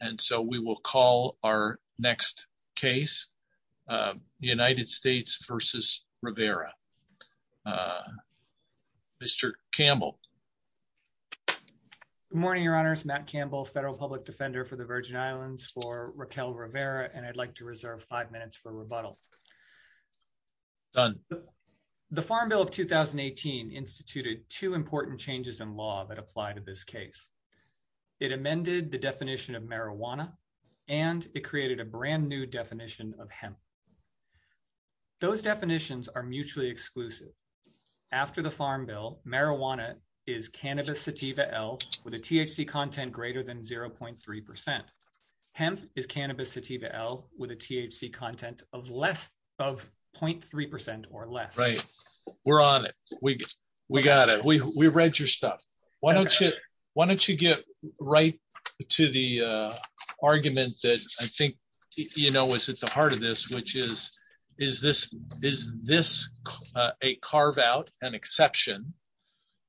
and so we will call our next case the United States v. Rivera. Mr. Campbell. Good morning, your honors. Matt Campbell, federal public defender for the Virgin Islands for Raquel Rivera and I'd like to reserve five minutes for rebuttal. Done. The Farm Bill of 2018 instituted two important changes in law that apply to this case. It amended the definition of marijuana and it created a brand new definition of hemp. Those definitions are mutually exclusive. After the Farm Bill, marijuana is cannabis sativa L with a THC content greater than 0.3%. Hemp is cannabis sativa L with a THC content of less of 0.3% or less. We're on it. We got it. We read your stuff. Why don't you get right to the argument that I think is at the heart of this, which is, is this a carve out an exception?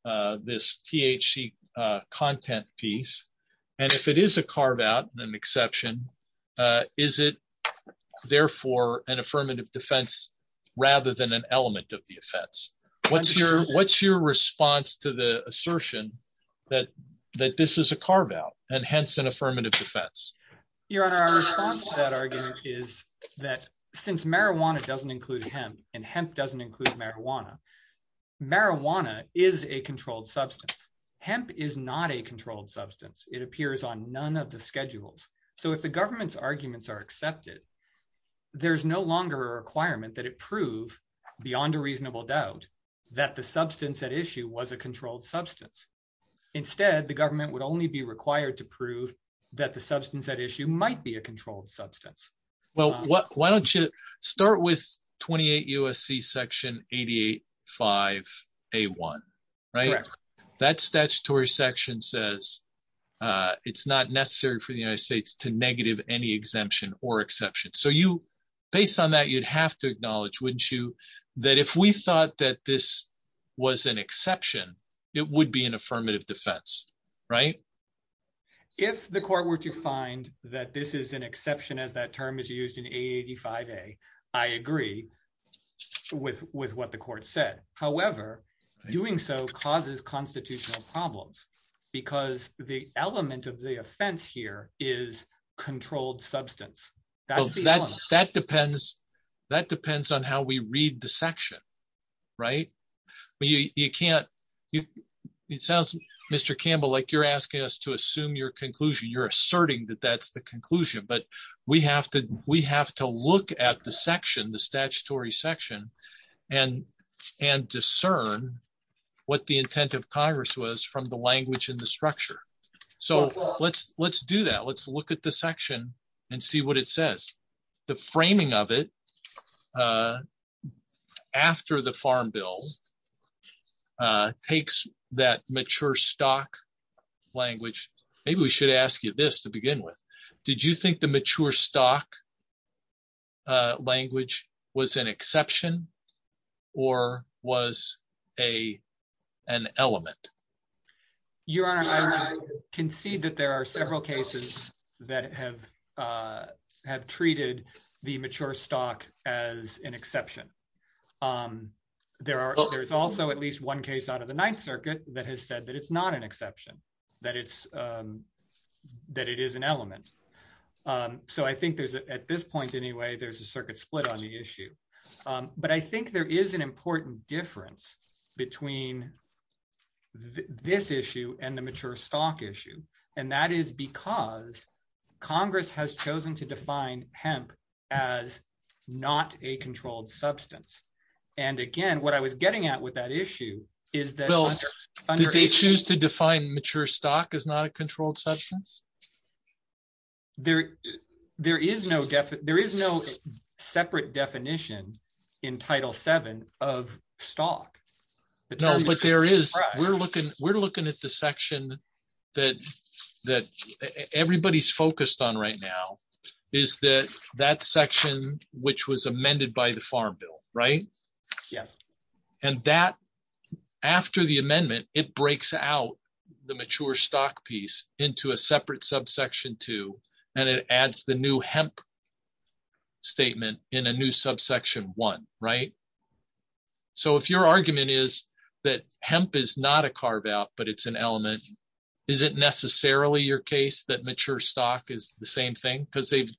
Uh, this THC, uh, content piece, and if it is a carve out an exception, uh, is it therefore an affirmative defense rather than an element of the offense? What's your, what's your response to the assertion that, that this is a carve out and hence an affirmative defense? Your honor, our response to that argument is that since marijuana doesn't include hemp and is a controlled substance, hemp is not a controlled substance. It appears on none of the schedules. So if the government's arguments are accepted, there's no longer a requirement that it prove beyond a reasonable doubt that the substance at issue was a controlled substance. Instead, the government would only be required to prove that the substance at issue might be a 5A1, right? That statutory section says, uh, it's not necessary for the United States to negative any exemption or exception. So you, based on that, you'd have to acknowledge, wouldn't you, that if we thought that this was an exception, it would be an affirmative defense, right? If the court were to find that this is an exception as that term is used in 885A, I agree with, with what the court said. However, doing so causes constitutional problems because the element of the offense here is controlled substance. That's the element. That depends, that depends on how we read the section, right? You, you can't, it sounds Mr. Campbell, like you're asking us to assume your conclusion. You're asserting that that's the section, the statutory section and, and discern what the intent of Congress was from the language and the structure. So let's, let's do that. Let's look at the section and see what it says. The framing of it, uh, after the farm bill, uh, takes that mature stock language. Maybe we should ask you this to begin with, did you think the mature stock, uh, language was an exception or was a, an element? Your Honor, I can see that there are several cases that have, uh, have treated the mature stock as an exception. Um, there are, there's also at least one case out of the Ninth that it is an element. Um, so I think there's a, at this point anyway, there's a circuit split on the issue. Um, but I think there is an important difference between this issue and the mature stock issue. And that is because Congress has chosen to define hemp as not a controlled substance. And again, what I was getting at with that issue is that they choose to define mature stock is not controlled substance. There, there is no definite, there is no separate definition in title seven of stock. No, but there is, we're looking, we're looking at the section that, that everybody's focused on right now is that that section, which was amended by the farm bill. Right. Yes. And that after the amendment, it breaks out the mature stock piece into a separate subsection two, and it adds the new hemp statement in a new subsection one, right? So if your argument is that hemp is not a carve out, but it's an element, is it necessarily your case that mature stock is the same thing? Because they've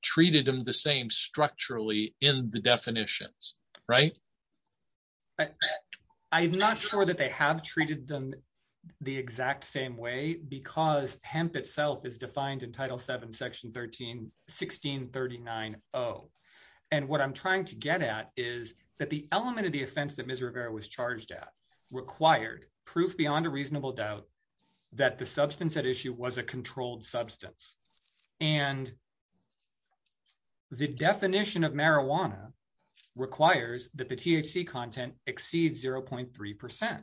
right. I'm not sure that they have treated them the exact same way because hemp itself is defined in title seven, section 13, 1639. Oh. And what I'm trying to get at is that the element of the offense that misery was charged at required proof beyond a reasonable doubt that the substance at issue was a controlled substance. And the definition of marijuana requires that the THC content exceeds 0.3%.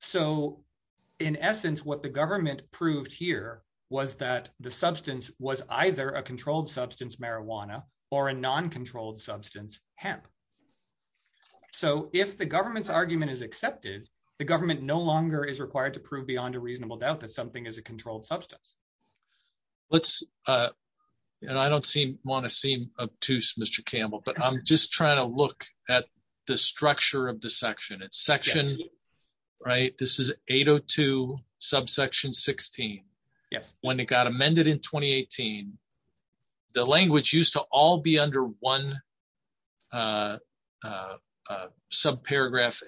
So in essence, what the government proved here was that the substance was either a controlled substance, marijuana, or a non-controlled substance hemp. So if the government's argument is accepted, the government no longer is required to prove beyond a reasonable doubt that something is a controlled substance. And I don't want to seem obtuse, Mr. Campbell, but I'm just trying to look at the structure of the section. It's section, right? This is 802 subsection 16. Yes. When it got amended in 2018, the language used to all be under one subparagraph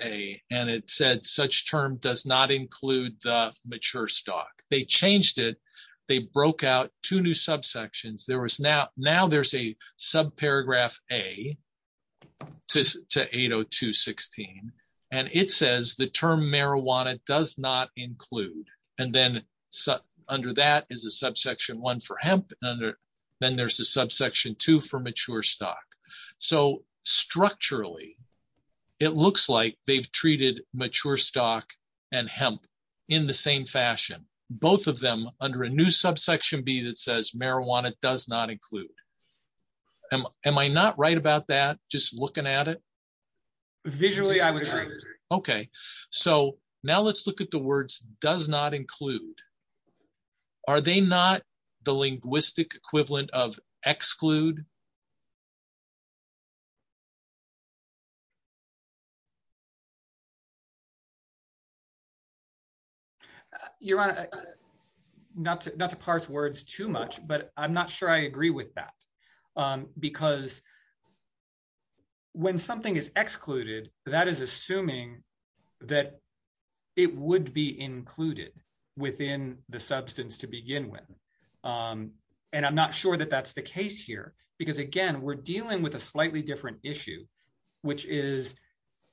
A, and it said such term does not include the mature stock. They changed it. They broke out two new subsections. Now there's a subparagraph A to 802.16, and it says the term marijuana does not include. And then under that is a subsection two for mature stock. So structurally, it looks like they've treated mature stock and hemp in the same fashion, both of them under a new subsection B that says marijuana does not include. Am I not right about that just looking at it? Visually, I would agree. Okay. So now let's look at the words does not include. Are they not the linguistic equivalent of exclude? Your Honor, not to parse words too much, but I'm not sure I agree with that because when something is excluded, that is assuming that it would be included within the substance to begin with. And I'm not sure that that's the case here because again, we're dealing with a slightly different issue, which is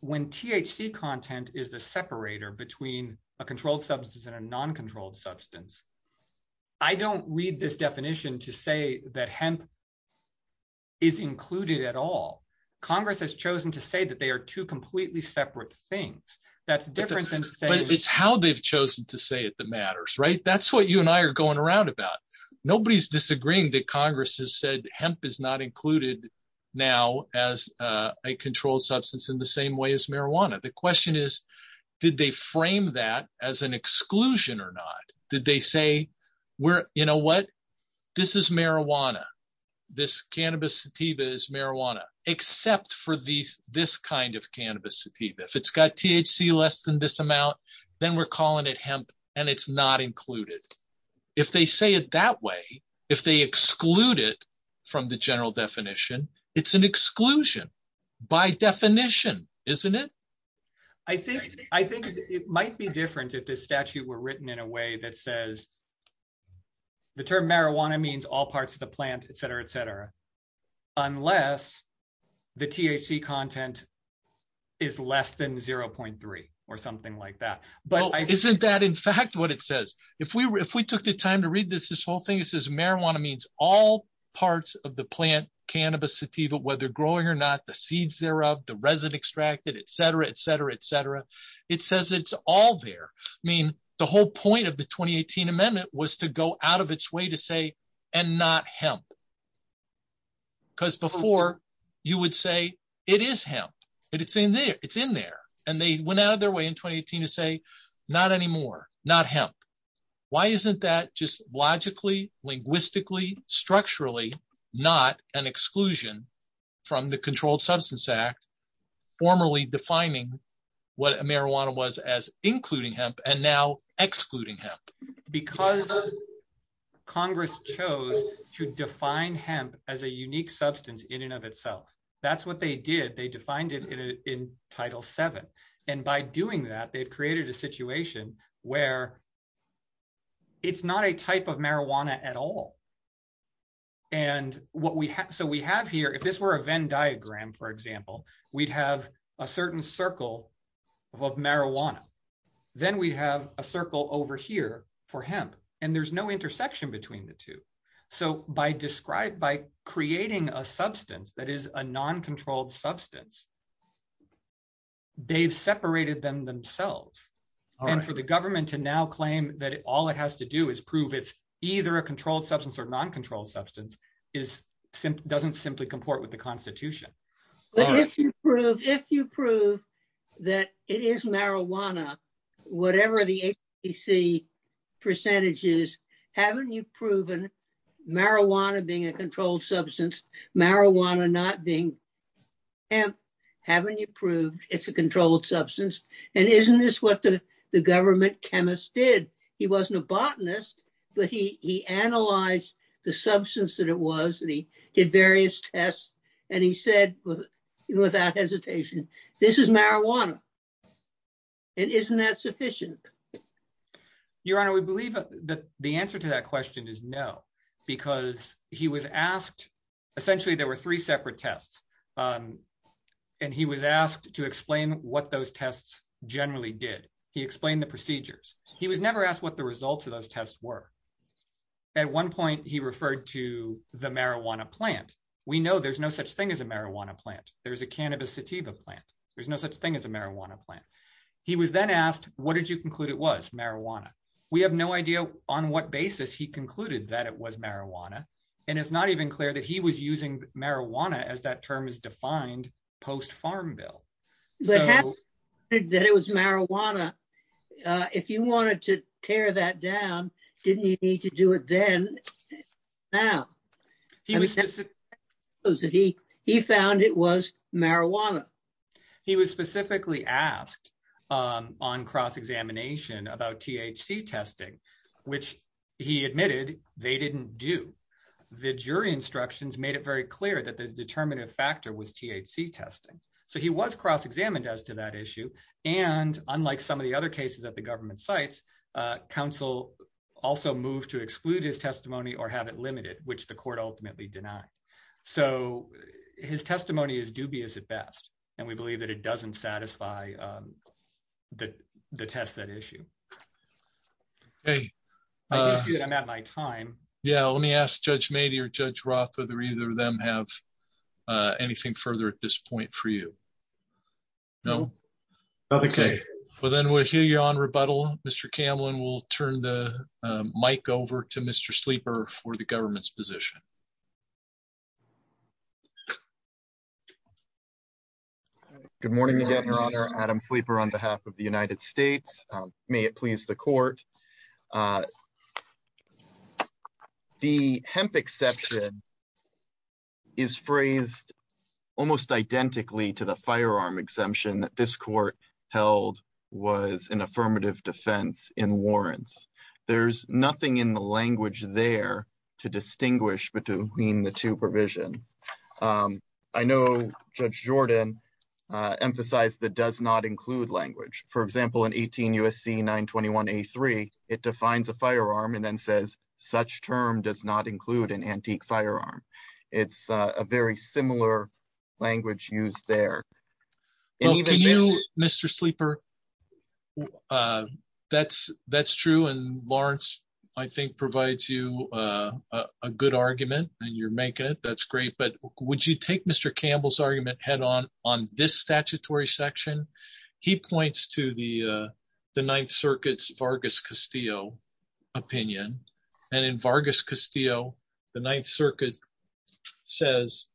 when THC content is the separator between a controlled substance and a marijuana. Congress has chosen to say that they are two completely separate things. It's how they've chosen to say it that matters, right? That's what you and I are going around about. Nobody's disagreeing that Congress has said hemp is not included now as a controlled substance in the same way as marijuana. The question is, did they frame that as an exclusion or not? Did they say, you know what? This is marijuana. This cannabis sativa is marijuana, except for this kind of cannabis sativa. If it's got THC less than this amount, then we're calling it hemp and it's not included. If they say it that way, if they exclude it from the general definition, it's an exclusion by definition, isn't it? I think it might be different if this statute were written in a way that says the term marijuana means all parts of the plant, et cetera, et cetera, unless the THC content is less than 0.3 or something like that. Isn't that in fact what it says? If we took the time to read this whole thing, it says marijuana means all parts of the plant cannabis sativa, whether growing or not, the seeds thereof, the resin extracted, et cetera, it says it's all there. The whole point of the 2018 amendment was to go out of its way to say, and not hemp. Because before you would say it is hemp, but it's in there. They went out of their way in 2018 to say, not anymore, not hemp. Why isn't that just logically, linguistically, structurally, not an exclusion from the formally defining what marijuana was as including hemp and now excluding hemp? Because Congress chose to define hemp as a unique substance in and of itself. That's what they did. They defined it in Title VII. By doing that, they've created a situation where it's not a type of marijuana at all. If this were a Venn diagram, for example, we'd have a certain circle of marijuana. Then we'd have a circle over here for hemp, and there's no intersection between the two. By creating a substance that is a non-controlled substance, they've separated them themselves. For the government to now claim that all it has to do is prove it's either a controlled substance or non-controlled substance doesn't simply comport with the Constitution. If you prove that it is marijuana, whatever the HPC percentage is, haven't you proven marijuana being a controlled substance, marijuana not being hemp? Haven't you proved it's a controlled substance? Isn't this what the government chemist did? He wasn't a chemist. He was a chemist, and he said without hesitation, this is marijuana. Isn't that sufficient? Your Honor, we believe that the answer to that question is no. Essentially, there were three separate tests, and he was asked to explain what those tests generally did. He explained the procedures. He was never asked what the results of those tests were. At one point, he referred to the marijuana plant. We know there's no such thing as a marijuana plant. There's a cannabis sativa plant. There's no such thing as a marijuana plant. He was then asked, what did you conclude it was? Marijuana. We have no idea on what basis he concluded that it was marijuana, and it's not even clear that he was using marijuana as that term is defined post-farm bill. But having said that it was marijuana, if you wanted to tear that down, didn't he need to do it then now? He found it was marijuana. He was specifically asked on cross-examination about THC testing, which he admitted they didn't do. The jury instructions made it very clear that the to that issue. Unlike some of the other cases at the government sites, counsel also moved to exclude his testimony or have it limited, which the court ultimately denied. His testimony is dubious at best, and we believe that it doesn't satisfy the test set issue. I'm at my time. Yeah. Let me ask Judge Mady or Judge Roth whether either of them have anything further at this point for you. No? Okay. Well, then we'll hear you on rebuttal. Mr. Camlin, we'll turn the mic over to Mr. Sleeper for the government's position. Good morning again, Your Honor. Adam Sleeper on behalf of the United States. May it please the almost identically to the firearm exemption that this court held was an affirmative defense in warrants. There's nothing in the language there to distinguish between the two provisions. I know Judge Jordan emphasized that does not include language. For example, in 18 U.S.C. 921 A3, it defines a firearm and then says such term does not include an antique firearm. It's a very similar language used there. Mr. Sleeper, that's true, and Lawrence, I think, provides you a good argument, and you're making it. That's great, but would you take Mr. Campbell's argument head on on this statutory section? He points to the Ninth Circuit's Vargas Castillo opinion, and in Vargas Castillo, the Ninth Circuit says,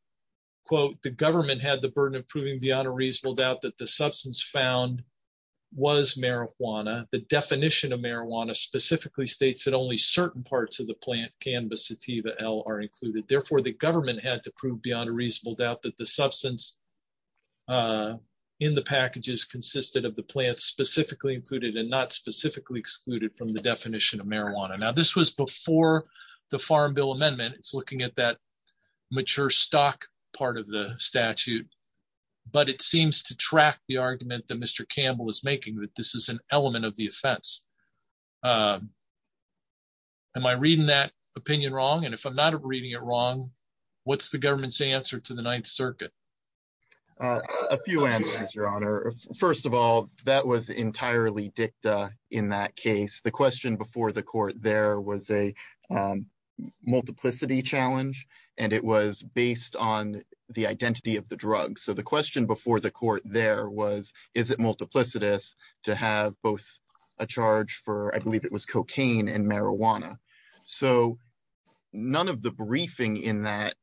quote, the government had the burden of proving beyond a reasonable doubt that the substance found was marijuana. The definition of marijuana specifically states that only certain parts of the plant cannabis sativa L are included. Therefore, the government had to prove beyond a reasonable doubt that the substance in the packages consisted of the plant specifically included and not specifically excluded from the definition of marijuana. Now, this was before the Farm Bill Amendment. It's looking at that mature stock part of the statute, but it seems to track the argument that Mr. Campbell is making that this is an element of the offense. Am I reading that opinion wrong? And if I'm not reading it wrong, what's the government's answer to the Ninth Circuit? A few answers, Your Honor. First of all, that was entirely dicta in that case. The question before the court there was a multiplicity challenge, and it was based on the identity of the drug. So the question before the court there was, is it multiplicitous to have both a charge I believe it was cocaine and marijuana. So none of the briefing in that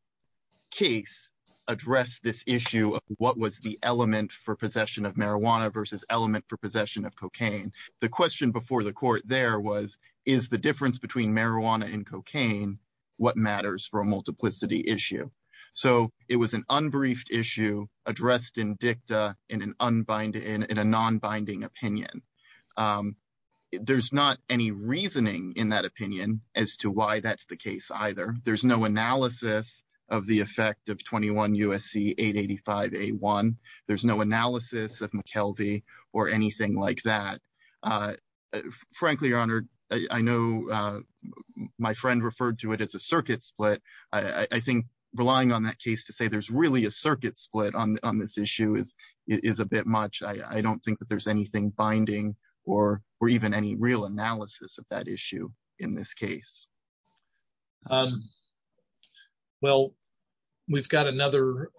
case addressed this issue of what was the element for possession of marijuana versus element for possession of cocaine. The question before the court there was, is the difference between marijuana and cocaine what matters for a multiplicity issue? So it was an unbriefed issue addressed in dicta in a non-binding opinion. There's not any reasoning in that opinion as to why that's the case either. There's no analysis of the effect of 21 USC 885A1. There's no analysis of McKelvey or anything like that. Frankly, Your Honor, I know my friend referred to it as a circuit split. I think relying on that case to say there's really a circuit split on this issue is a bit much. I don't think that there's anything binding or even any real analysis of that issue in this case. Well, we've got another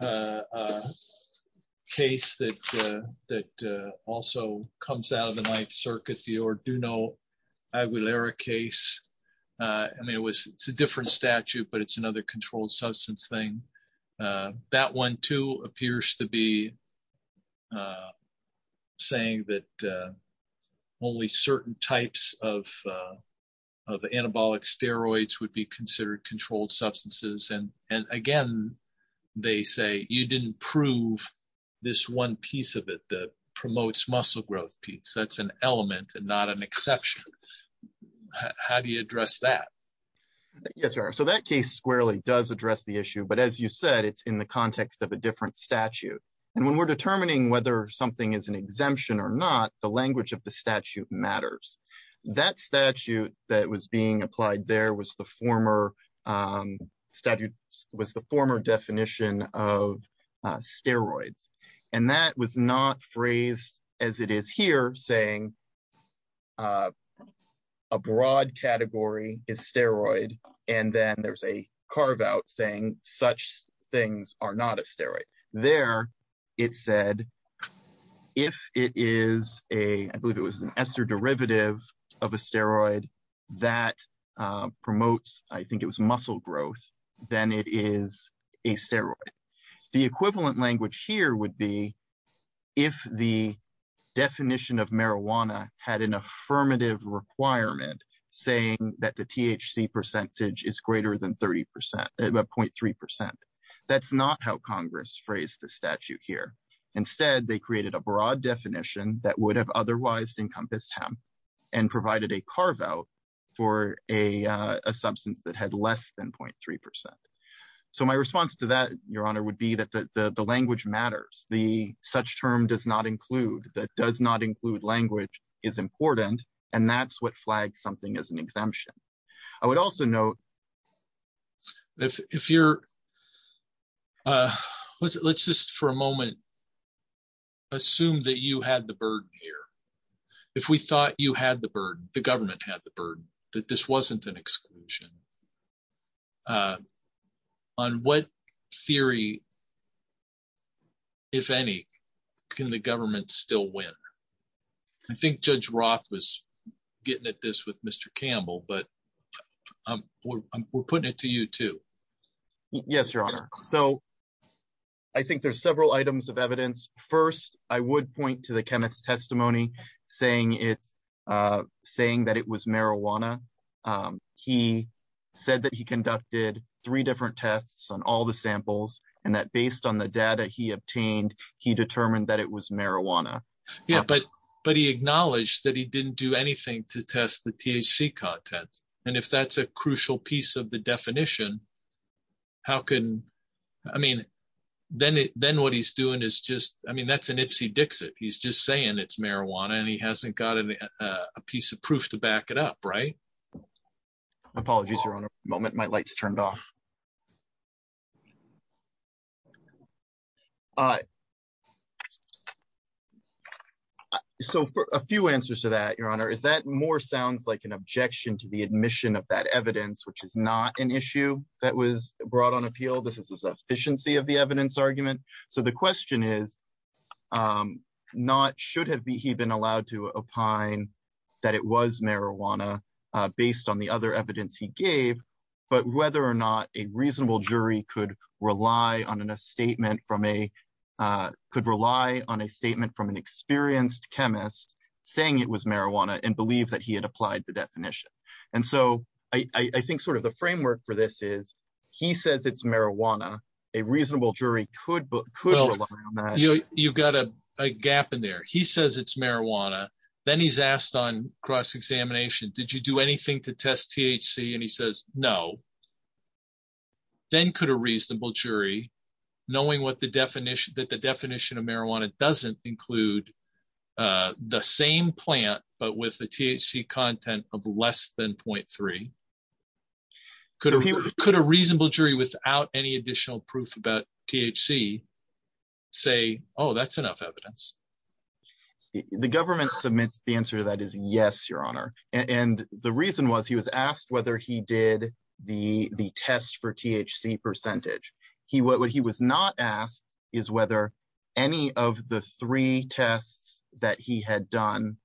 case that also comes out of the Ninth Circuit, the Orduno Aguilera case. I mean, it's a different statute, but it's another controlled substance thing. That one too appears to be saying that only certain types of anabolic steroids would be considered controlled substances. And again, they say you didn't prove this one piece of it that promotes muscle growth piece. That's an element and not an exception. How do you address that? Yes, Your Honor. So that case squarely does address the issue, but as you said, it's in the context of a different statute. And when we're determining whether something is an exemption or not, the language of the statute matters. That statute that was being applied there was the former definition of steroids. And that was not phrased as it is here saying a broad category is steroid. And then there's a carve out saying such things are not a steroid. There it said, if it is a, I believe it was an ester derivative of a steroid that promotes, I think it was muscle growth, then it is a steroid. The equivalent language here would be if the definition of marijuana had an affirmative requirement saying that the THC percentage is greater than 0.3%. That's not how Congress phrased the statute here. Instead, they created a broad definition that would have otherwise encompassed him and provided a carve out for a substance that had less than 0.3%. So my response to that, Your Honor, would be that the such term does not include, that does not include language is important, and that's what flags something as an exemption. I would also note- Let's just for a moment assume that you had the burden here. If we thought you had the burden, the government had the burden, that this wasn't an exclusion. On what theory, if any, can the government still win? I think Judge Roth was getting at this with Mr. Campbell, but we're putting it to you too. Yes, Your Honor. So I think there's several items of evidence. First, I would point to the he said that he conducted three different tests on all the samples and that based on the data he obtained, he determined that it was marijuana. Yeah, but he acknowledged that he didn't do anything to test the THC content. And if that's a crucial piece of the definition, how can, I mean, then what he's doing is just, I mean, that's an Ipsy Dixit. He's just saying it's right. Apologies, Your Honor. Moment, my light's turned off. So for a few answers to that, Your Honor, is that more sounds like an objection to the admission of that evidence, which is not an issue that was brought on appeal. This is the sufficiency of the evidence argument. So the question is not should have he been allowed to opine that it was marijuana based on the other evidence he gave, but whether or not a reasonable jury could rely on a statement from a could rely on a statement from an experienced chemist saying it was marijuana and believe that he had applied the definition. And so I think sort of the framework for this is he says it's marijuana. A reasonable jury could. You've got a gap in there. He says it's marijuana. Then he's asked on cross-examination, did you do anything to test THC? And he says, no. Then could a reasonable jury knowing what the definition that the definition of marijuana doesn't include the same plant, but with the THC content of less than 0.3. Could a reasonable jury without any additional proof about THC say, oh, that's enough evidence. The government submits the answer to that is yes, your honor. And the reason was he was asked whether he did the test for THC percentage. He what he was not asked is whether any of the three tests that he had done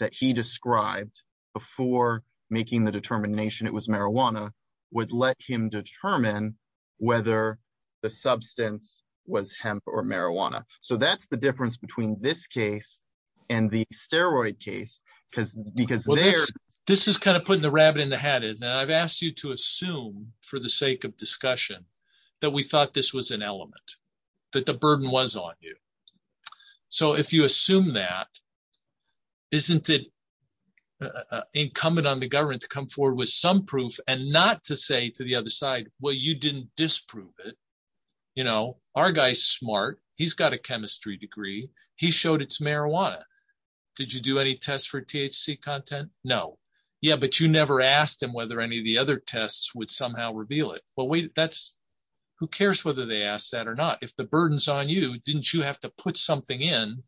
that he described before making the determination it was marijuana would let him determine whether the substance was hemp or marijuana. So that's the difference between this case and the steroid case because there. This is kind of putting the rabbit in the hat is that I've asked you to assume for the sake of discussion that we thought this was an element, that the burden was on you. So if you assume that, isn't it incumbent on the government to come forward with some proof and not to say to the other side, well, you didn't disprove it. You know, our guy's smart. He's got a chemistry degree. He showed it's marijuana. Did you do any tests for THC content? No. Yeah. But you never asked him whether any of the other tests would somehow reveal it. But wait, that's who cares whether they ask that or not. If the burden's on you, didn't you have to put something in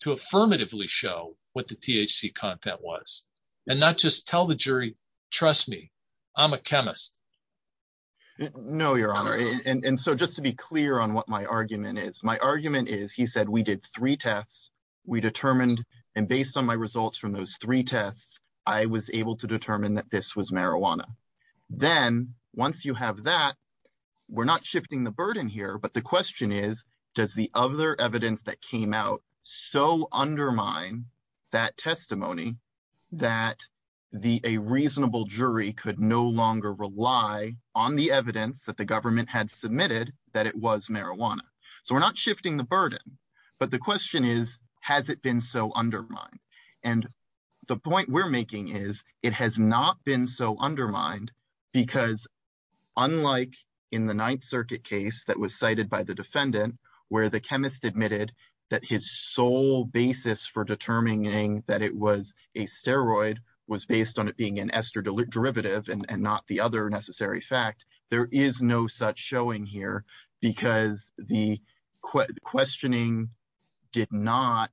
to affirmatively show what the THC content was and not just tell the jury, trust me, I'm a chemist. No, your honor. And so just to be clear on what my argument is, my argument is he said we did three tests. We determined and based on my results from those three tests, I was able to determine that this was marijuana. Then once you have that, we're not shifting the burden here. But the a reasonable jury could no longer rely on the evidence that the government had submitted that it was marijuana. So we're not shifting the burden. But the question is, has it been so undermined? And the point we're making is it has not been so undermined because unlike in the Ninth Circuit case that was cited by the defendant, where the chemist admitted that his sole basis for determining that it was a steroid was based on it being an ester derivative and not the other necessary fact, there is no such showing here because the questioning did not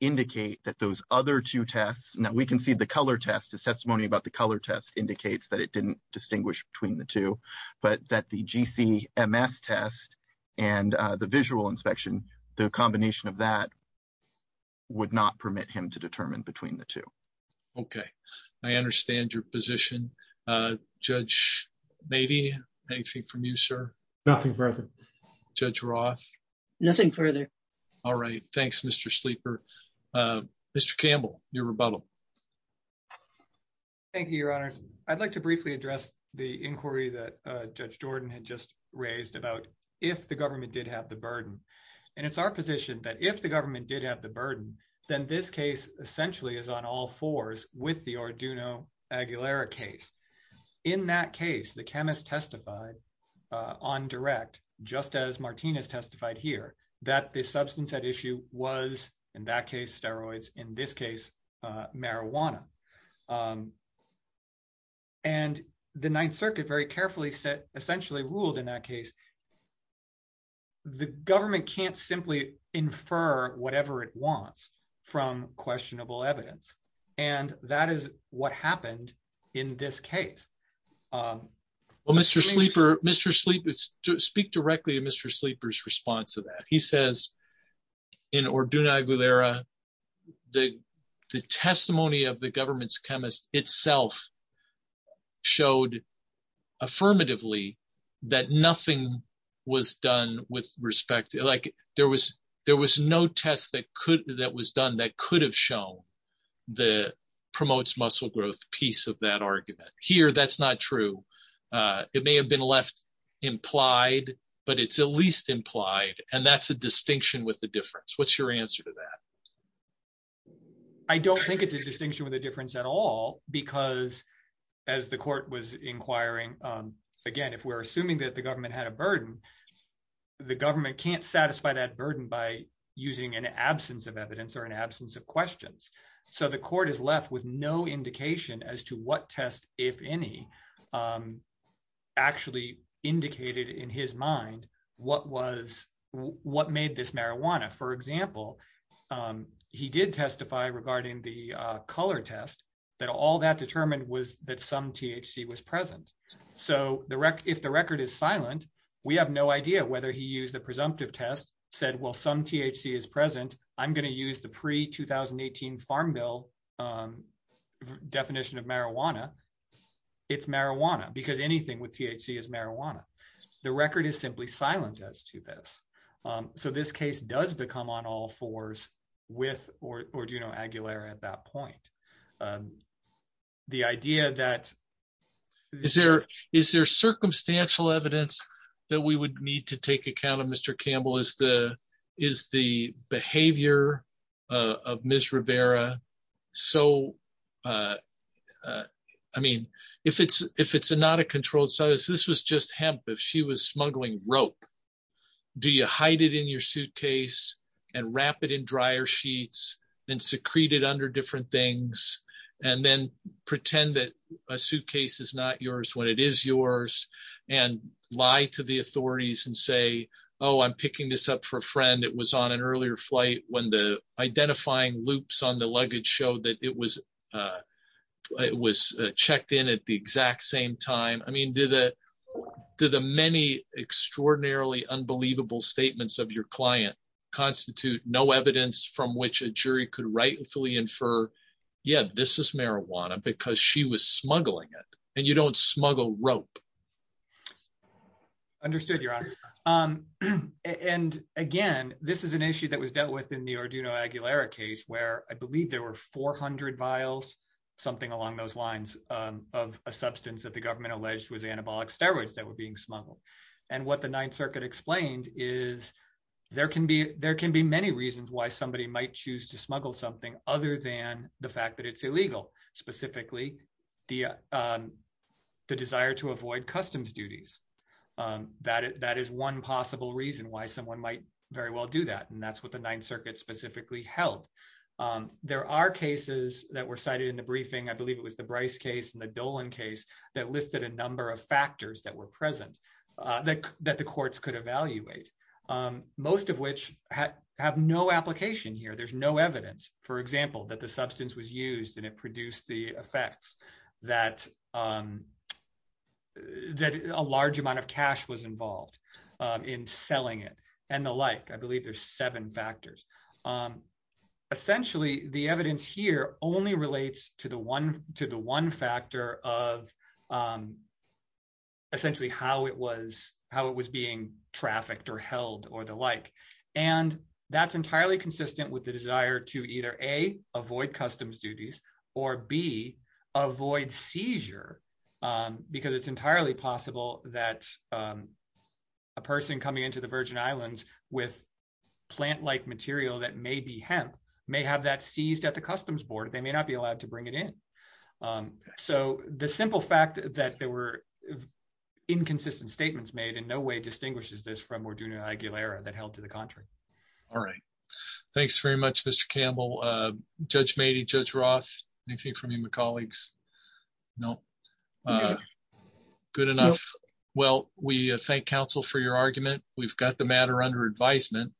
indicate that those other two tests, now we can see the color test, his testimony about the color test indicates that it didn't distinguish between the two, but that the G. C. M. S. Test and the visual inspection, the combination of that would not permit him to determine between the two. Okay, I understand your position. Judge, maybe anything from you, sir? Nothing further. Judge Roth. Nothing further. All right. Thanks, Mr. Sleeper. Mr. Campbell, your rebuttal. Thank you, your honors. I'd like to briefly address the inquiry that Judge Jordan had just raised about if the government did have the burden. And it's our position that if the government did have the burden, then this case essentially is on all fours with the Arduino-Aguilera case. In that case, the chemist testified on direct, just as Martinez testified here, that the substance at issue was in that case, steroids, in this case, marijuana. And the Ninth Circuit very carefully said, essentially ruled in that case, the government can't simply infer whatever it wants from questionable evidence. And that is what happened in this case. Well, Mr. Sleeper, speak directly to Mr. Sleeper's response to that. He says in Arduino-Aguilera, the testimony of the government's chemist itself showed affirmatively that nothing was done with respect. There was no test that was done that could have shown the promotes muscle growth piece of that argument. Here, that's not true. It may have been left implied, but it's at least implied. And that's a distinction with the difference. What's your answer to that? I don't think it's a distinction with a difference at all, because as the court was inquiring, again, if we're assuming that the government had a burden, the government can't satisfy that burden by using an absence of evidence or an absence of questions. So the court is left with no indication as to what test, if any, actually indicated in his mind what made this marijuana. For example, he did testify regarding the color test that all that determined was that some THC was present. So if the record is silent, we have no idea whether he used the presumptive test, said, well, some THC is present. I'm going to use the pre-2018 Farm Bill definition of marijuana. It's marijuana, because anything with THC is marijuana. The record is simply silent as to this. So this case does become on all fours with Orduno Aguilera at that point. The idea that... Is there circumstantial evidence that we would need to take account of, Mr. Campbell, is the behavior of Ms. Rivera. So, I mean, if it's not a controlled substance, this was just hemp. If she was smuggling rope, do you hide it in your suitcase and wrap it in dryer sheets and secrete it under different things and then pretend that a suitcase is not yours when it is yours and lie to the authorities and say, oh, I'm picking this up for a friend. It was on an earlier flight when the identifying loops on the luggage showed that it was checked in at the exact same time. I mean, do the many extraordinarily unbelievable statements of your client constitute no evidence from which jury could rightfully infer, yeah, this is marijuana because she was smuggling it and you don't smuggle rope. Understood, Your Honor. And again, this is an issue that was dealt with in the Orduno Aguilera case where I believe there were 400 vials, something along those lines, of a substance that the government alleged was anabolic steroids that were being smuggled. And what the Ninth Circuit explained is there can be many reasons why somebody might choose to smuggle something other than the fact that it's illegal, specifically the desire to avoid customs duties. That is one possible reason why someone might very well do that. And that's what the Ninth Circuit specifically held. There are cases that were cited in the briefing. I believe it was the Bryce case and the Dolan case that listed a number of factors that were present. That the courts could evaluate, most of which have no application here. There's no evidence, for example, that the substance was used and it produced the effects that a large amount of cash was involved in selling it and the like. I believe there's seven factors. Essentially, the evidence here only relates to the one factor of essentially how it was being trafficked or held or the like. And that's entirely consistent with the desire to either A, avoid customs duties, or B, avoid seizure. Because it's entirely possible that a person coming into the Virgin Islands with plant-like material that may be hemp, may have that seized at the customs board. They may not be allowed to bring it in. So the simple fact that there were inconsistent statements made in no way distinguishes this from Morduna-Aguilera that held to the contrary. All right. Thanks very much, Mr. Campbell. Judge Mady, Judge Roth, anything from you and my colleagues? No. Good enough. Well, we thank counsel for your argument. We've got the matter under advisement.